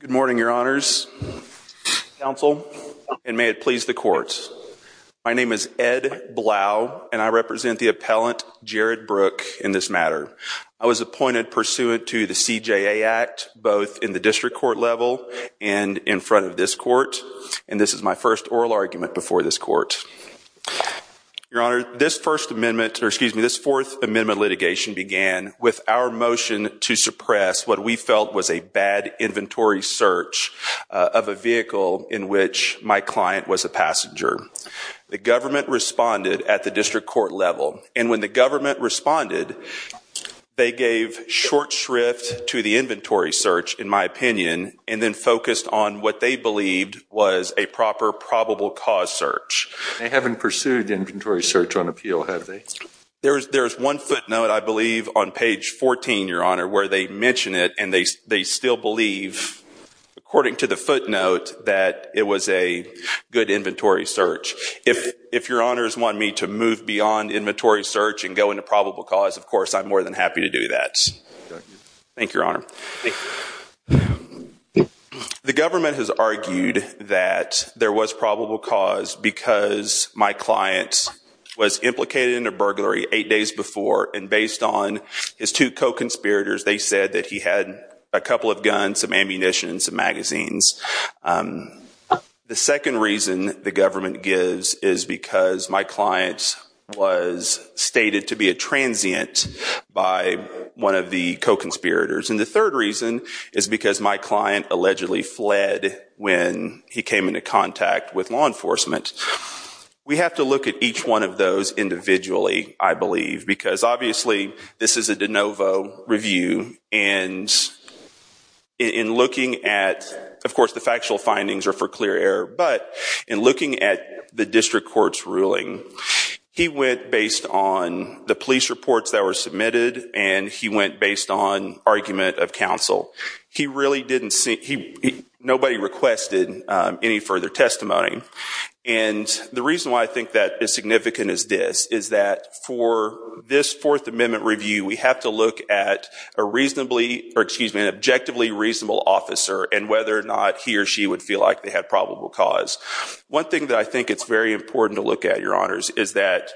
Good morning, your honors, counsel, and may it please the court. My name is Ed Blau, and I represent the appellant Jared Brook in this matter. I was appointed pursuant to the CJA Act both in the district court level and in front of this court, and this is my first oral argument before this court. Your honor, this Fourth Amendment litigation began with our motion to suppress what we felt was a bad inventory search of a vehicle in which my client was a passenger. The government responded at the district court level, and when the government responded, they gave short shrift to the inventory search, in my opinion, and then focused on what they believed was a proper probable cause search. They haven't pursued inventory search on appeal, have they? There's one footnote, I believe, on page 14, your honor, where they mention it, and they still believe, according to the footnote, that it was a good inventory search. If your honors want me to move beyond inventory search and go into probable cause, of course, I'm more than happy to do that. Thank you, your honor. The government has argued that there was probable cause because my client was implicated in a burglary eight days before, and based on his two co-conspirators, they said that he had a couple of guns, some ammunition, some magazines. The second reason the government gives is because my client was stated to be a transient by one of the co-conspirators. And the third reason is because my client allegedly fled when he came into contact with law enforcement. We have to look at each one of those individually, I believe, because obviously, this is a de novo review. And in looking at, of course, the factual findings are for clear air, but in looking at the district court's ruling, he went based on the police reports that were submitted, and he went based on argument of counsel. He really didn't see. Nobody requested any further testimony. And the reason why I think that is significant as this is that for this Fourth Amendment review, we have to look at an objectively reasonable officer and whether or not he or she would feel like they had probable cause. One thing that I think it's very important to look at, Your Honors, is that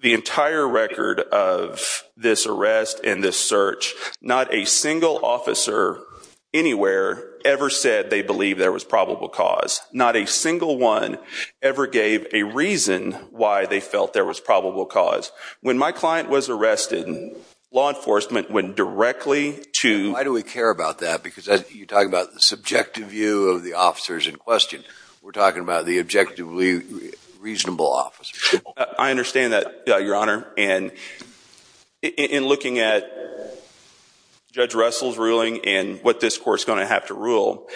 the entire record of this arrest and this search, not a single officer anywhere ever said they believe there was probable cause. Not a single one ever gave a reason why they felt there was probable cause. When my client was arrested, law enforcement went directly to- Why do we care about that? Because you're talking about the subjective view of the officers in question. We're talking about the objectively reasonable officer. I understand that, Your Honor. And in looking at Judge Russell's ruling and what this court's going to have to rule,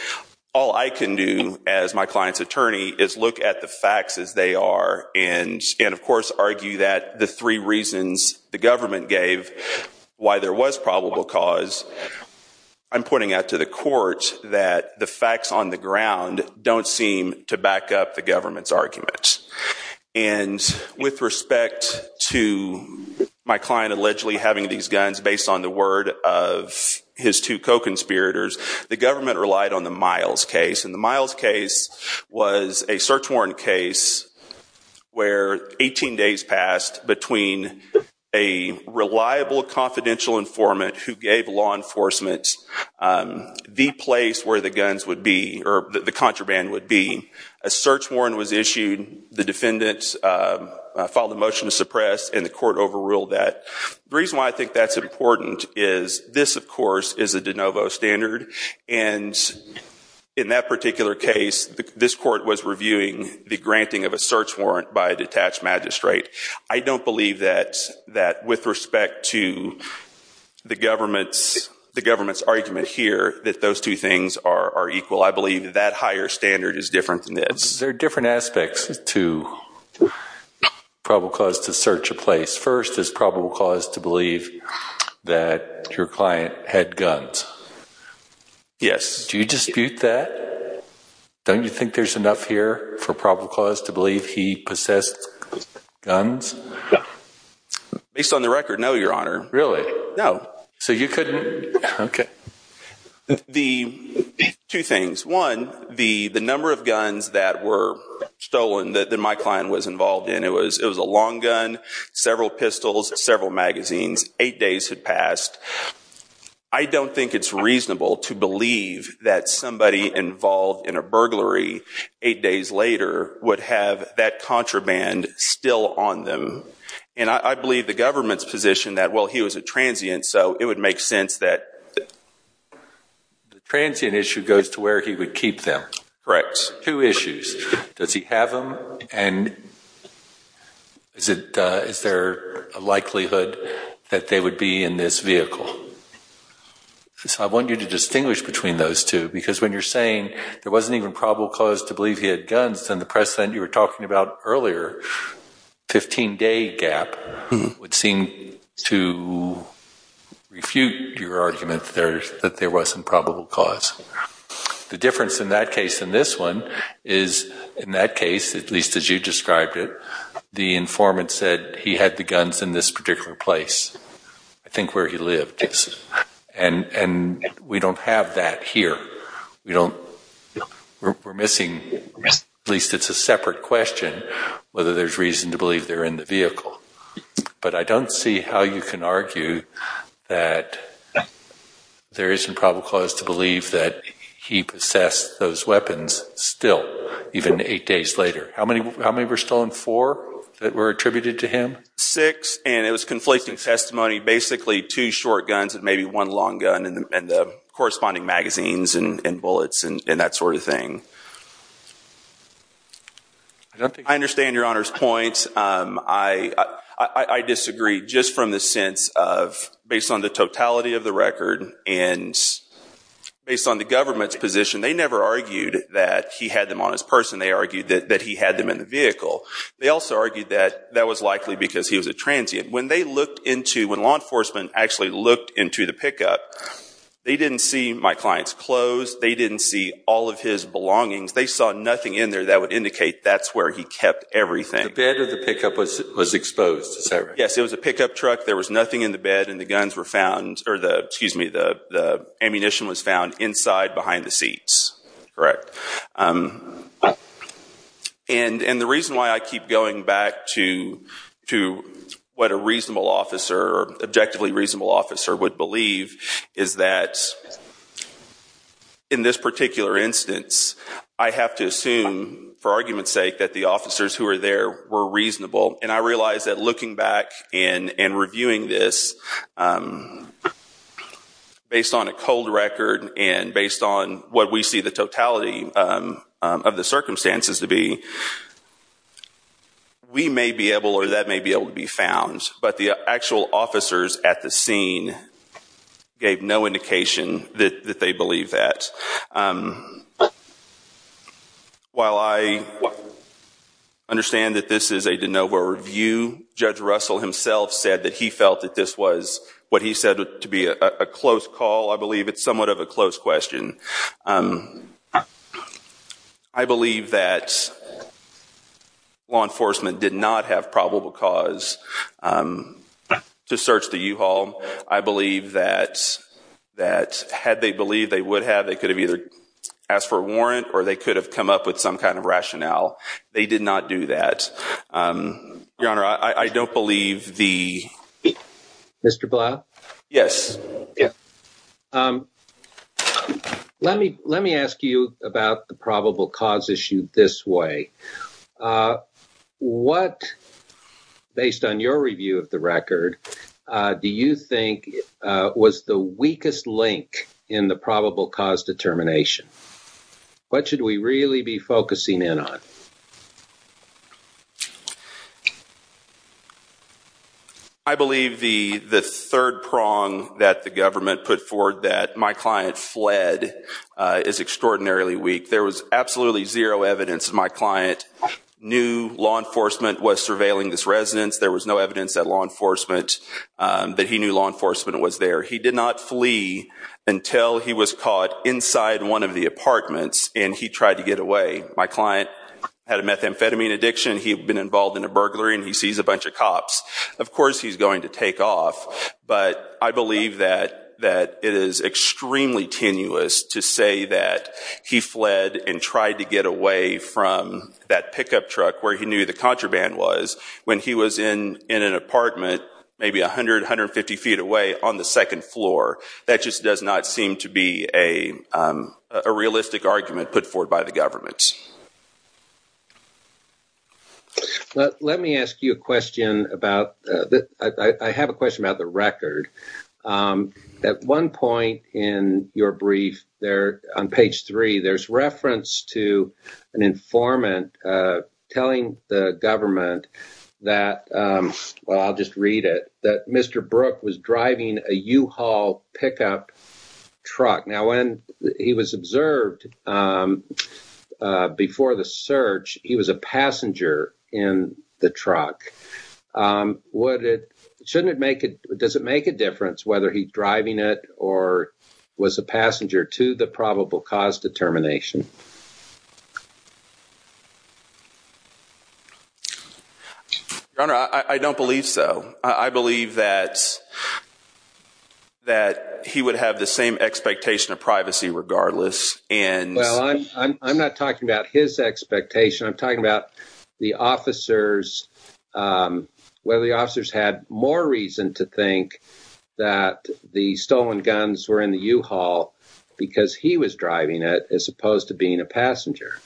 all I can do as my client's attorney is look at the facts as they are. And of course, argue that the three reasons the government gave why there was probable cause, I'm pointing out to the court that the facts on the ground don't seem to back up the government's arguments. And with respect to my client allegedly having these guns based on the word of his two co-conspirators, the government relied on the Miles case. And the Miles case was a search warrant case where 18 days passed between a reliable, confidential informant who gave law enforcement the place where the guns would be, or the contraband would be. A search warrant was issued. The defendants filed a motion to suppress, and the court overruled that. The reason why I think that's important is this, of course, is a de novo standard. And in that particular case, this court was reviewing the granting of a search warrant by a detached magistrate. I don't believe that, with respect to the government's argument here, that those two things are equal. I believe that higher standard is different than this. There are different aspects to probable cause to search a place. First is probable cause to believe that your client had guns. Yes. Do you dispute that? Don't you think there's enough here for probable cause to believe he possessed guns? Based on the record, no, Your Honor. Really? No. So you couldn't? OK. The two things, one, the number of guns that were stolen that my client was involved in, it was a long gun, several pistols, several magazines, eight days had passed. I don't think it's reasonable to believe that somebody involved in a burglary eight days later would have that contraband still on them. And I believe the government's position that, well, he was a transient, so it would make sense that the transient issue goes to where he would keep them. Correct. Two issues. Does he have them? And is there a likelihood that they would be in this vehicle? So I want you to distinguish between those two. Because when you're saying there wasn't even probable cause to believe he had guns, then the precedent you were talking about earlier, 15-day gap, would seem to refute your argument that there was some probable cause. The difference in that case and this one is, in that case, at least as you described it, the informant said he had the guns in this particular place, I think where he lived. And we don't have that here. We're missing, at least it's a separate question, whether there's reason to believe they're in the vehicle. But I don't see how you can argue that there isn't probable cause to believe that he possessed those weapons still, even eight days later. How many were stolen? Four that were attributed to him? Six. And it was conflicting testimony. Basically, two short guns and maybe one long gun and the corresponding magazines and bullets and that sort of thing. I understand Your Honor's point. I disagree just from the sense of, based on the totality of the record and based on the government's position, they never argued that he had them on his person. They argued that he had them in the vehicle. They also argued that that was likely because he was a transient. When they looked into, when law enforcement actually looked into the pickup, they didn't see my client's clothes. They didn't see all of his belongings. They saw nothing in there that would indicate that's where he kept everything. The bed of the pickup was exposed, is that right? Yes, it was a pickup truck. There was nothing in the bed and the ammunition was found inside behind the seat. Correct. And the reason why I keep going back to what a reasonable officer, objectively reasonable officer, would believe is that in this particular instance, I have to assume, for argument's sake, that the officers who were there were reasonable. And I realize that looking back and reviewing this based on a cold record and based on what we see the totality of the circumstances to be, we may be able or that may be able to be found. But the actual officers at the scene gave no indication that they believe that. While I understand that this is a de novo review, Judge Russell himself said that he felt that this was, what he said, to be a close call. I believe it's somewhat of a close question. I believe that law enforcement did not have probable cause to search the U-Haul. I believe that had they believed they would have, they could have either asked for a warrant or they could have come up with some kind of rationale. They did not do that. Your Honor, I don't believe the- Mr. Blau? Yes. Let me ask you about the probable cause issue this way. What, based on your review of the record, do you think was the weakest link in the probable cause determination? What should we really be focusing in on? I believe the third prong that the government put forward that my client fled is extraordinarily weak. There was absolutely zero evidence that my client knew law enforcement was surveilling this residence. There was no evidence that law enforcement, that he knew law enforcement was there. He did not flee until he was caught My client, he was not able to get away. Had a methamphetamine addiction. He had been involved in a burglary and he sees a bunch of cops. Of course he's going to take off, but I believe that it is extremely tenuous to say that he fled and tried to get away from that pickup truck where he knew the contraband was when he was in an apartment, maybe 100, 150 feet away on the second floor. That just does not seem to be a realistic argument put forward by the government. Let me ask you a question about, I have a question about the record. At one point in your brief there on page three, there's reference to an informant telling the government that, well, I'll just read it, that Mr. Brooke was driving a U-Haul pickup truck. Now when he was observed before the search, he was a passenger in the truck. Does it make a difference whether he's driving it or was a passenger to the probable cause determination? Your Honor, I don't believe so. I believe that he would have the same expectations of privacy regardless and- Well, I'm not talking about his expectation. I'm talking about whether the officers had more reason to think that the stolen guns were in the U-Haul because he was driving it as opposed to being a passenger.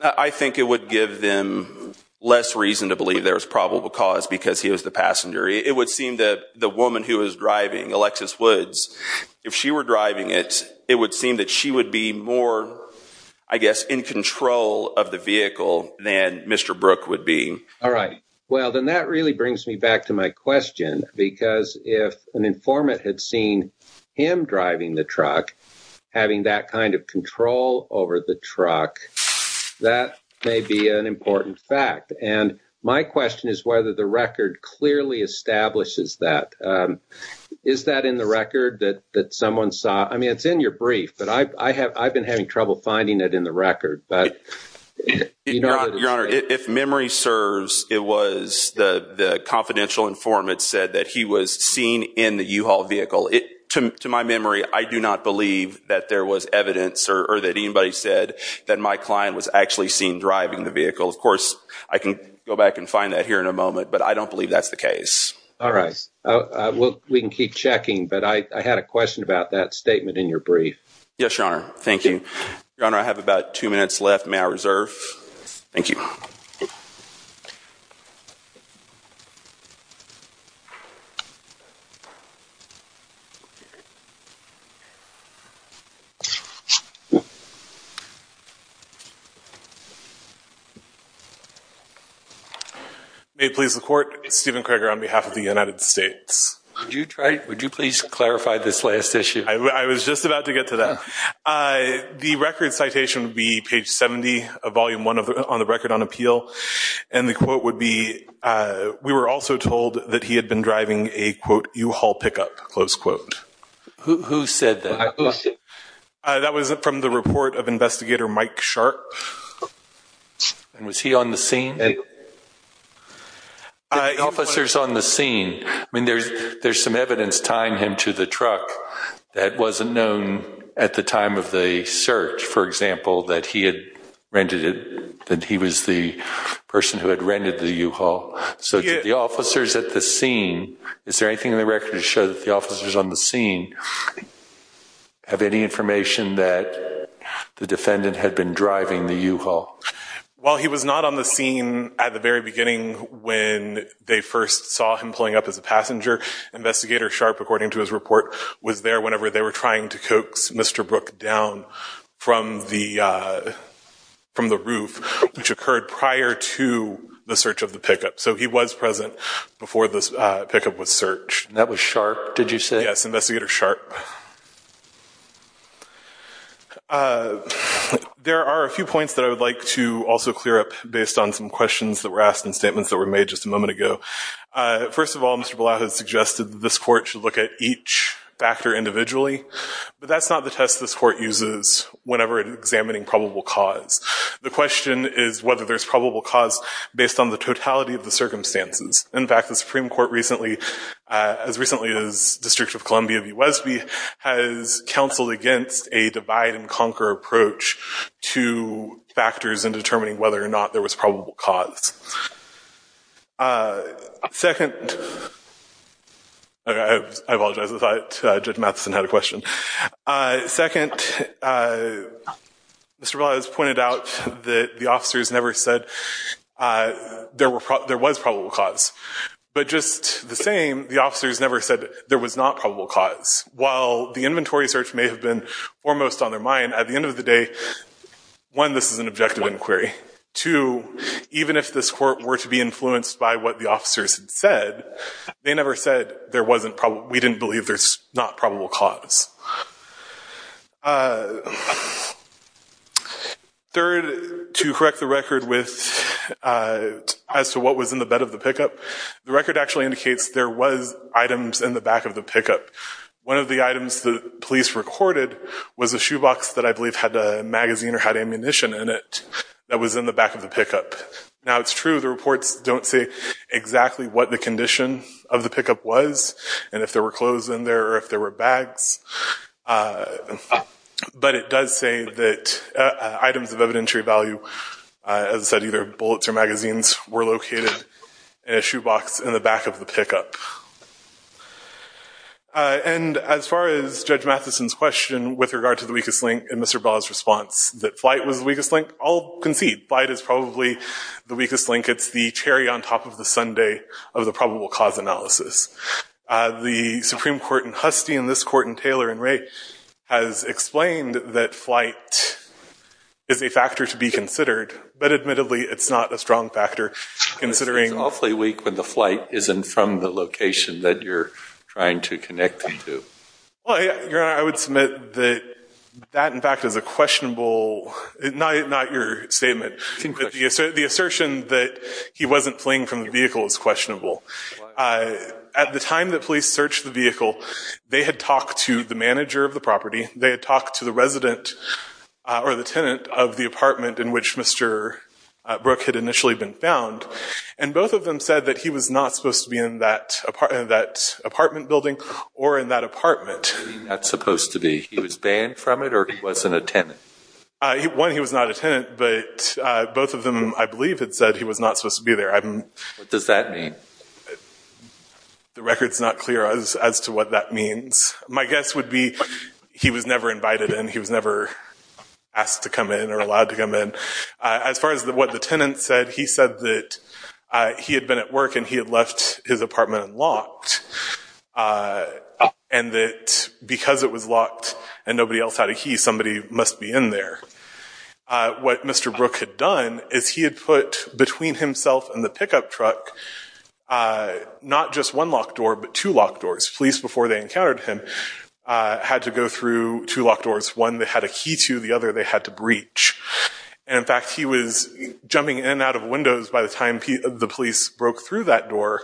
I think it would give them less reason to believe there was probable cause because he was the passenger. It would seem that the woman who was driving, Alexis Woods, if she were driving it, it would seem that she would be more, I guess, in control of the vehicle than Mr. Brooke would be. All right. Well, then that really brings me back to my question because if an informant had seen him driving the truck, having that kind of control over the truck, that may be an important fact. And my question is whether the record clearly establishes that. Is that in the record that someone saw? I mean, it's in your brief, but I've been having trouble finding it in the record. Your Honor, if memory serves, it was the confidential informant said that he was seen in the U-Haul vehicle. To my memory, I do not believe that there was evidence or that anybody said that my client was actually seen driving the vehicle. Of course, I can go back and find that here in a moment, but I don't believe that's the case. All right. We can keep checking, but I had a question about that statement in your brief. Yes, Your Honor. Thank you. Your Honor, I have about two minutes left. May I reserve? Thank you. May it please the Court, Steven Kroeger on behalf of the United States. Would you please clarify this last issue? I was just about to get to that. The record citation would be page 70 of volume one on the record on appeal. And the quote would be, we were also told that he had been driving a, quote, U-Haul pickup, close quote. Who said that? That was from the report of investigator Mike Sharp. And was he on the scene? The officers on the scene. I mean, there's some evidence tying him to the truck that wasn't known at the time of the search, for example, that he had rented it, that he was the person who had rented the U-Haul. So did the officers at the scene, is there anything in the record to show that the officers on the scene have any information that the defendant had been driving the U-Haul? Well, he was not on the scene at the very beginning when they first saw him pulling up as a passenger. Investigator Sharp, according to his report, was there whenever they were trying to coax Mr. Brooke down from the roof, which occurred prior to the search of the pickup. So he was present before this pickup was searched. That was Sharp, did you say? Yes, Investigator Sharp. There are a few points that I would like to also clear up based on some questions that were asked and statements that were made just a moment ago. First of all, Mr. Bullough has suggested that this court should look at each factor individually, but that's not the test this court uses whenever examining probable cause. The question is whether there's probable cause based on the totality of the circumstances. In fact, the Supreme Court recently, as recently as District of Columbia v. Wesby, has counseled against a divide-and-conquer approach to factors in determining whether or not there was probable cause. Second, I apologize, I thought Judge Matheson had a question. Second, Mr. Bullough has pointed out that the officers never said there was probable cause, but just the same, the officers never said there was not probable cause. While the inventory search may have been almost on their mind, at the end of the day, one, this is an objective inquiry. Two, even if this court were to be influenced by what the officers had said, they never said we didn't believe there's not probable cause. Third, to correct the record as to what was in the bed of the pickup, the record actually indicates there was items in the back of the pickup. One of the items the police recorded was a shoebox that I believe had a magazine or had ammunition in it that was in the back of the pickup. Now, it's true the reports don't say exactly what the condition of the pickup was and if there were clothes in there or if there were bags, but it does say that items of evidentiary value, as I said, either bullets or magazines, were located in a shoebox in the back of the pickup. And as far as Judge Matheson's question with regard to the weakest link in Mr. Bullough's response, that flight was the weakest link, I'll concede. Flight is probably the weakest link. It's the cherry on top of the sundae of the probable cause analysis. The Supreme Court in Husty and this court in Taylor and Wray has explained that flight is a factor to be considered, but admittedly, it's not a strong factor, considering. It's awfully weak when the flight isn't from the location that you're trying to connect them to. Well, Your Honor, I would submit that that, in fact, is a questionable, not your statement, but the assertion that he wasn't fleeing from the vehicle is questionable. At the time that police searched the vehicle, they had talked to the manager of the property, they had talked to the resident or the tenant of the apartment in which Mr. Brooke had initially been found, and both of them said that he was not supposed to be in that apartment building or in that apartment. That's supposed to be, he was banned from it or he wasn't a tenant? One, he was not a tenant, but both of them, I believe, had said he was not supposed to be there. What does that mean? The record's not clear as to what that means. My guess would be he was never invited in, he was never asked to come in or allowed to come in. As far as what the tenant said, he said that he had been at work and he had left his apartment unlocked and that because it was locked and nobody else had a key, somebody must be in there. What Mr. Brooke had done is he had put between himself and the pickup truck not just one locked door, but two locked doors. Police, before they encountered him, had to go through two locked doors, one they had a key to, the other they had to breach. In fact, he was jumping in and out of windows by the time the police broke through that door,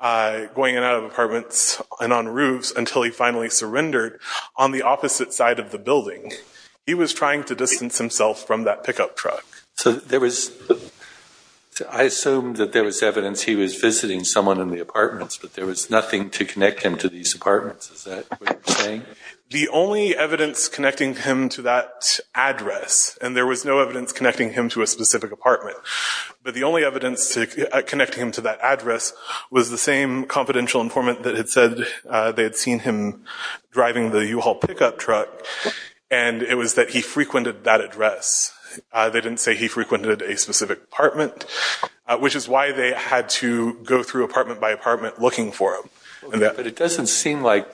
going in and out of apartments and on roofs until he finally surrendered on the opposite side of the building. He was trying to distance himself from that pickup truck. I assume that there was evidence he was visiting someone in the apartments, but there was nothing to connect him to these apartments, is that what you're saying? The only evidence connecting him to that address, and there was no evidence connecting him to a specific apartment, but the only evidence connecting him to that address was the same confidential informant that had said they had seen him driving the U-Haul pickup truck, and it was that he frequented that address. They didn't say he frequented a specific apartment, which is why they had to go through apartment by apartment looking for him. But it doesn't seem like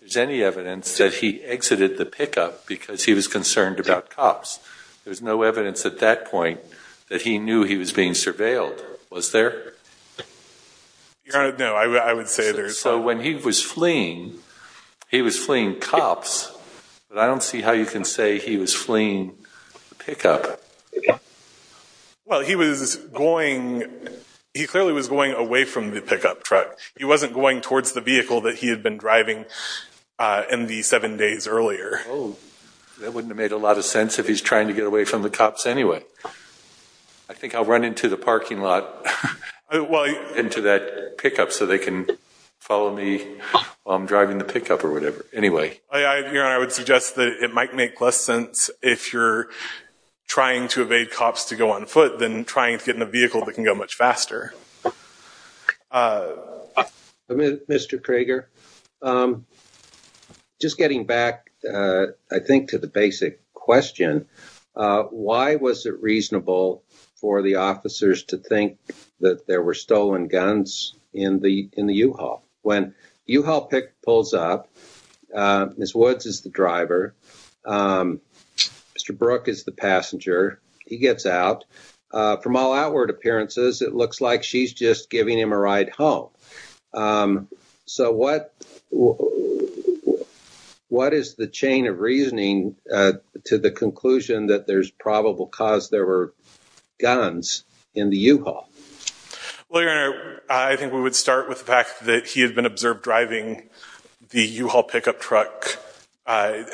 there's any evidence that he exited the pickup because he was concerned about cops. There's no evidence at that point that he knew he was being surveilled. Was there? No, I would say there's not. So when he was fleeing, he was fleeing cops, but I don't see how you can say he was fleeing the pickup. Well, he was going, he clearly was going away from the pickup truck. He wasn't going towards the vehicle that he had been driving in the seven days earlier. Oh, that wouldn't have made a lot of sense if he's trying to get away from the cops anyway. I think I'll run into the parking lot, into that pickup so they can follow me while I'm driving the pickup or whatever. Anyway. I would suggest that it might make less sense if you're trying to evade cops to go on foot than trying to get in a vehicle that can go much faster. Mr. Crager, just getting back, I think to the basic question, why was it reasonable for the officers to think that there were stolen guns in the U-Haul? When U-Haul pick pulls up, Ms. Woods is the driver, Mr. Brooke is the passenger. He gets out. From all outward appearances, it looks like she's just giving him a ride home. So what is the chain of reasoning to the conclusion that there's probable cause there were guns in the U-Haul? Well, your honor, I think we would start with the fact that he had been observed driving the U-Haul pickup truck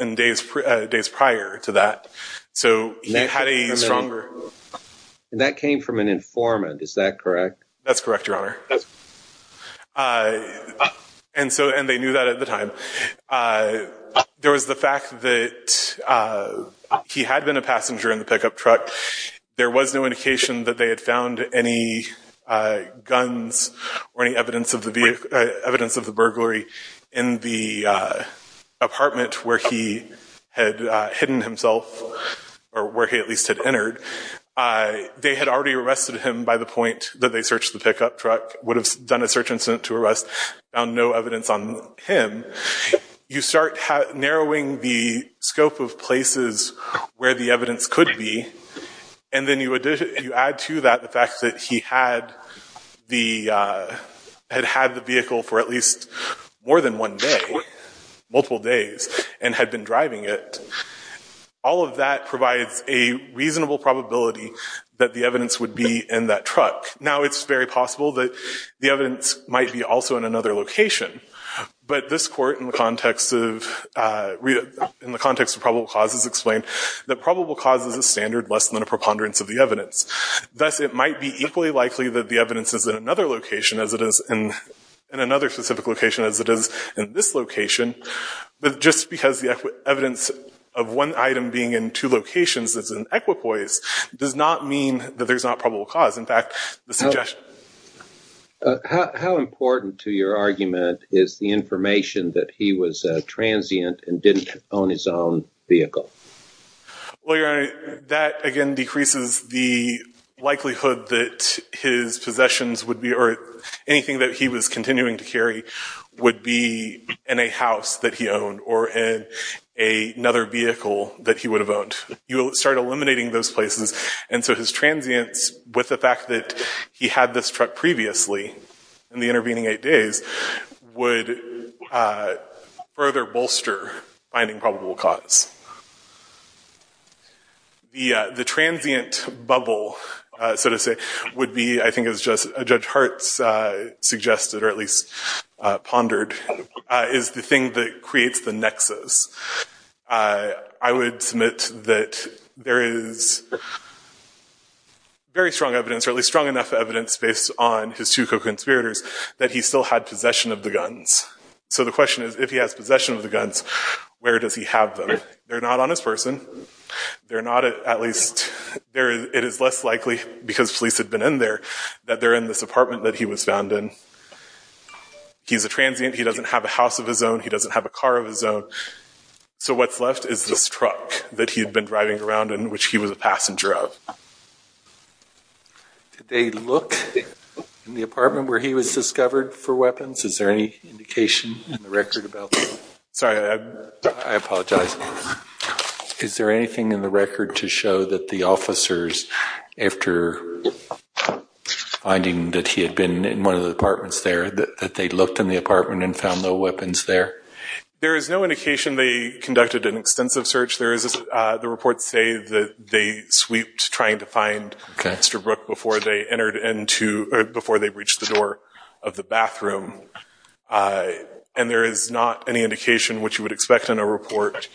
in days prior to that. So he had a stronger- And that came from an informant, is that correct? That's correct, your honor. And so, and they knew that at the time. There was the fact that he had been a passenger in the pickup truck. There was no indication that they had found any guns or any evidence of the burglary in the apartment where he had hidden himself, or where he at least had entered. They had already arrested him by the point that they searched the pickup truck, would have done a search and sent to arrest, found no evidence on him. You start narrowing the scope of places where the evidence could be, and then you add to that the fact that he had the, had had the vehicle for at least more than one day, multiple days, and had been driving it. All of that provides a reasonable probability that the evidence would be in that truck. Now, it's very possible that the evidence might be also in another location. But this court, in the context of probable causes, explained that probable cause is a standard less than a preponderance of the evidence. Thus, it might be equally likely that the evidence is in another location as it is in this location, but just because the evidence of one item being in two locations is an equipoise does not mean that there's not probable cause. In fact, the suggestion. How important to your argument is the information that he was a transient and didn't own his own vehicle? Well, Your Honor, that, again, decreases the likelihood that his possessions would be, or anything that he was continuing to carry would be in a house that he owned, or in another vehicle that he would have owned. You start eliminating those places, and so his transience, with the fact that he had this truck previously, in the intervening eight days, would further bolster finding probable cause. The transient bubble, so to say, would be, I think as Judge Hart suggested, I would submit that there is very strong evidence, or at least strong enough evidence based on his two co-conspirators that he still had possession of the guns. So the question is, if he has possession of the guns, where does he have them? They're not on his person. They're not, at least, it is less likely, because police had been in there, that they're in this apartment that he was found in. He's a transient, he doesn't have a house of his own, he doesn't have a car of his own. So what's left is this truck that he had been driving around and which he was a passenger of. Did they look in the apartment where he was discovered for weapons? Is there any indication in the record about that? Sorry, I apologize. Is there anything in the record to show that the officers, after finding that he had been in one of the apartments there, that they looked in the apartment and found the weapons there? There is no indication they conducted an extensive search. There is, the reports say that they sweeped trying to find Mr. Brooke before they entered into, before they reached the door of the bathroom. And there is not any indication, which you would expect in a report,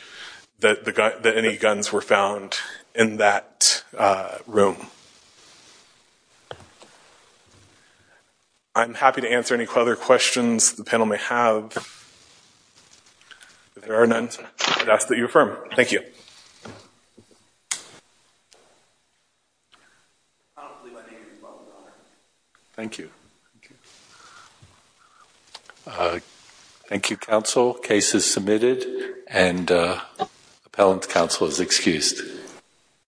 that any guns were found in that room. I'm happy to answer any other questions the panel may have. If there are none, I'd ask that you affirm. Thank you. Thank you. Thank you, counsel. Case is submitted and appellant counsel is excused.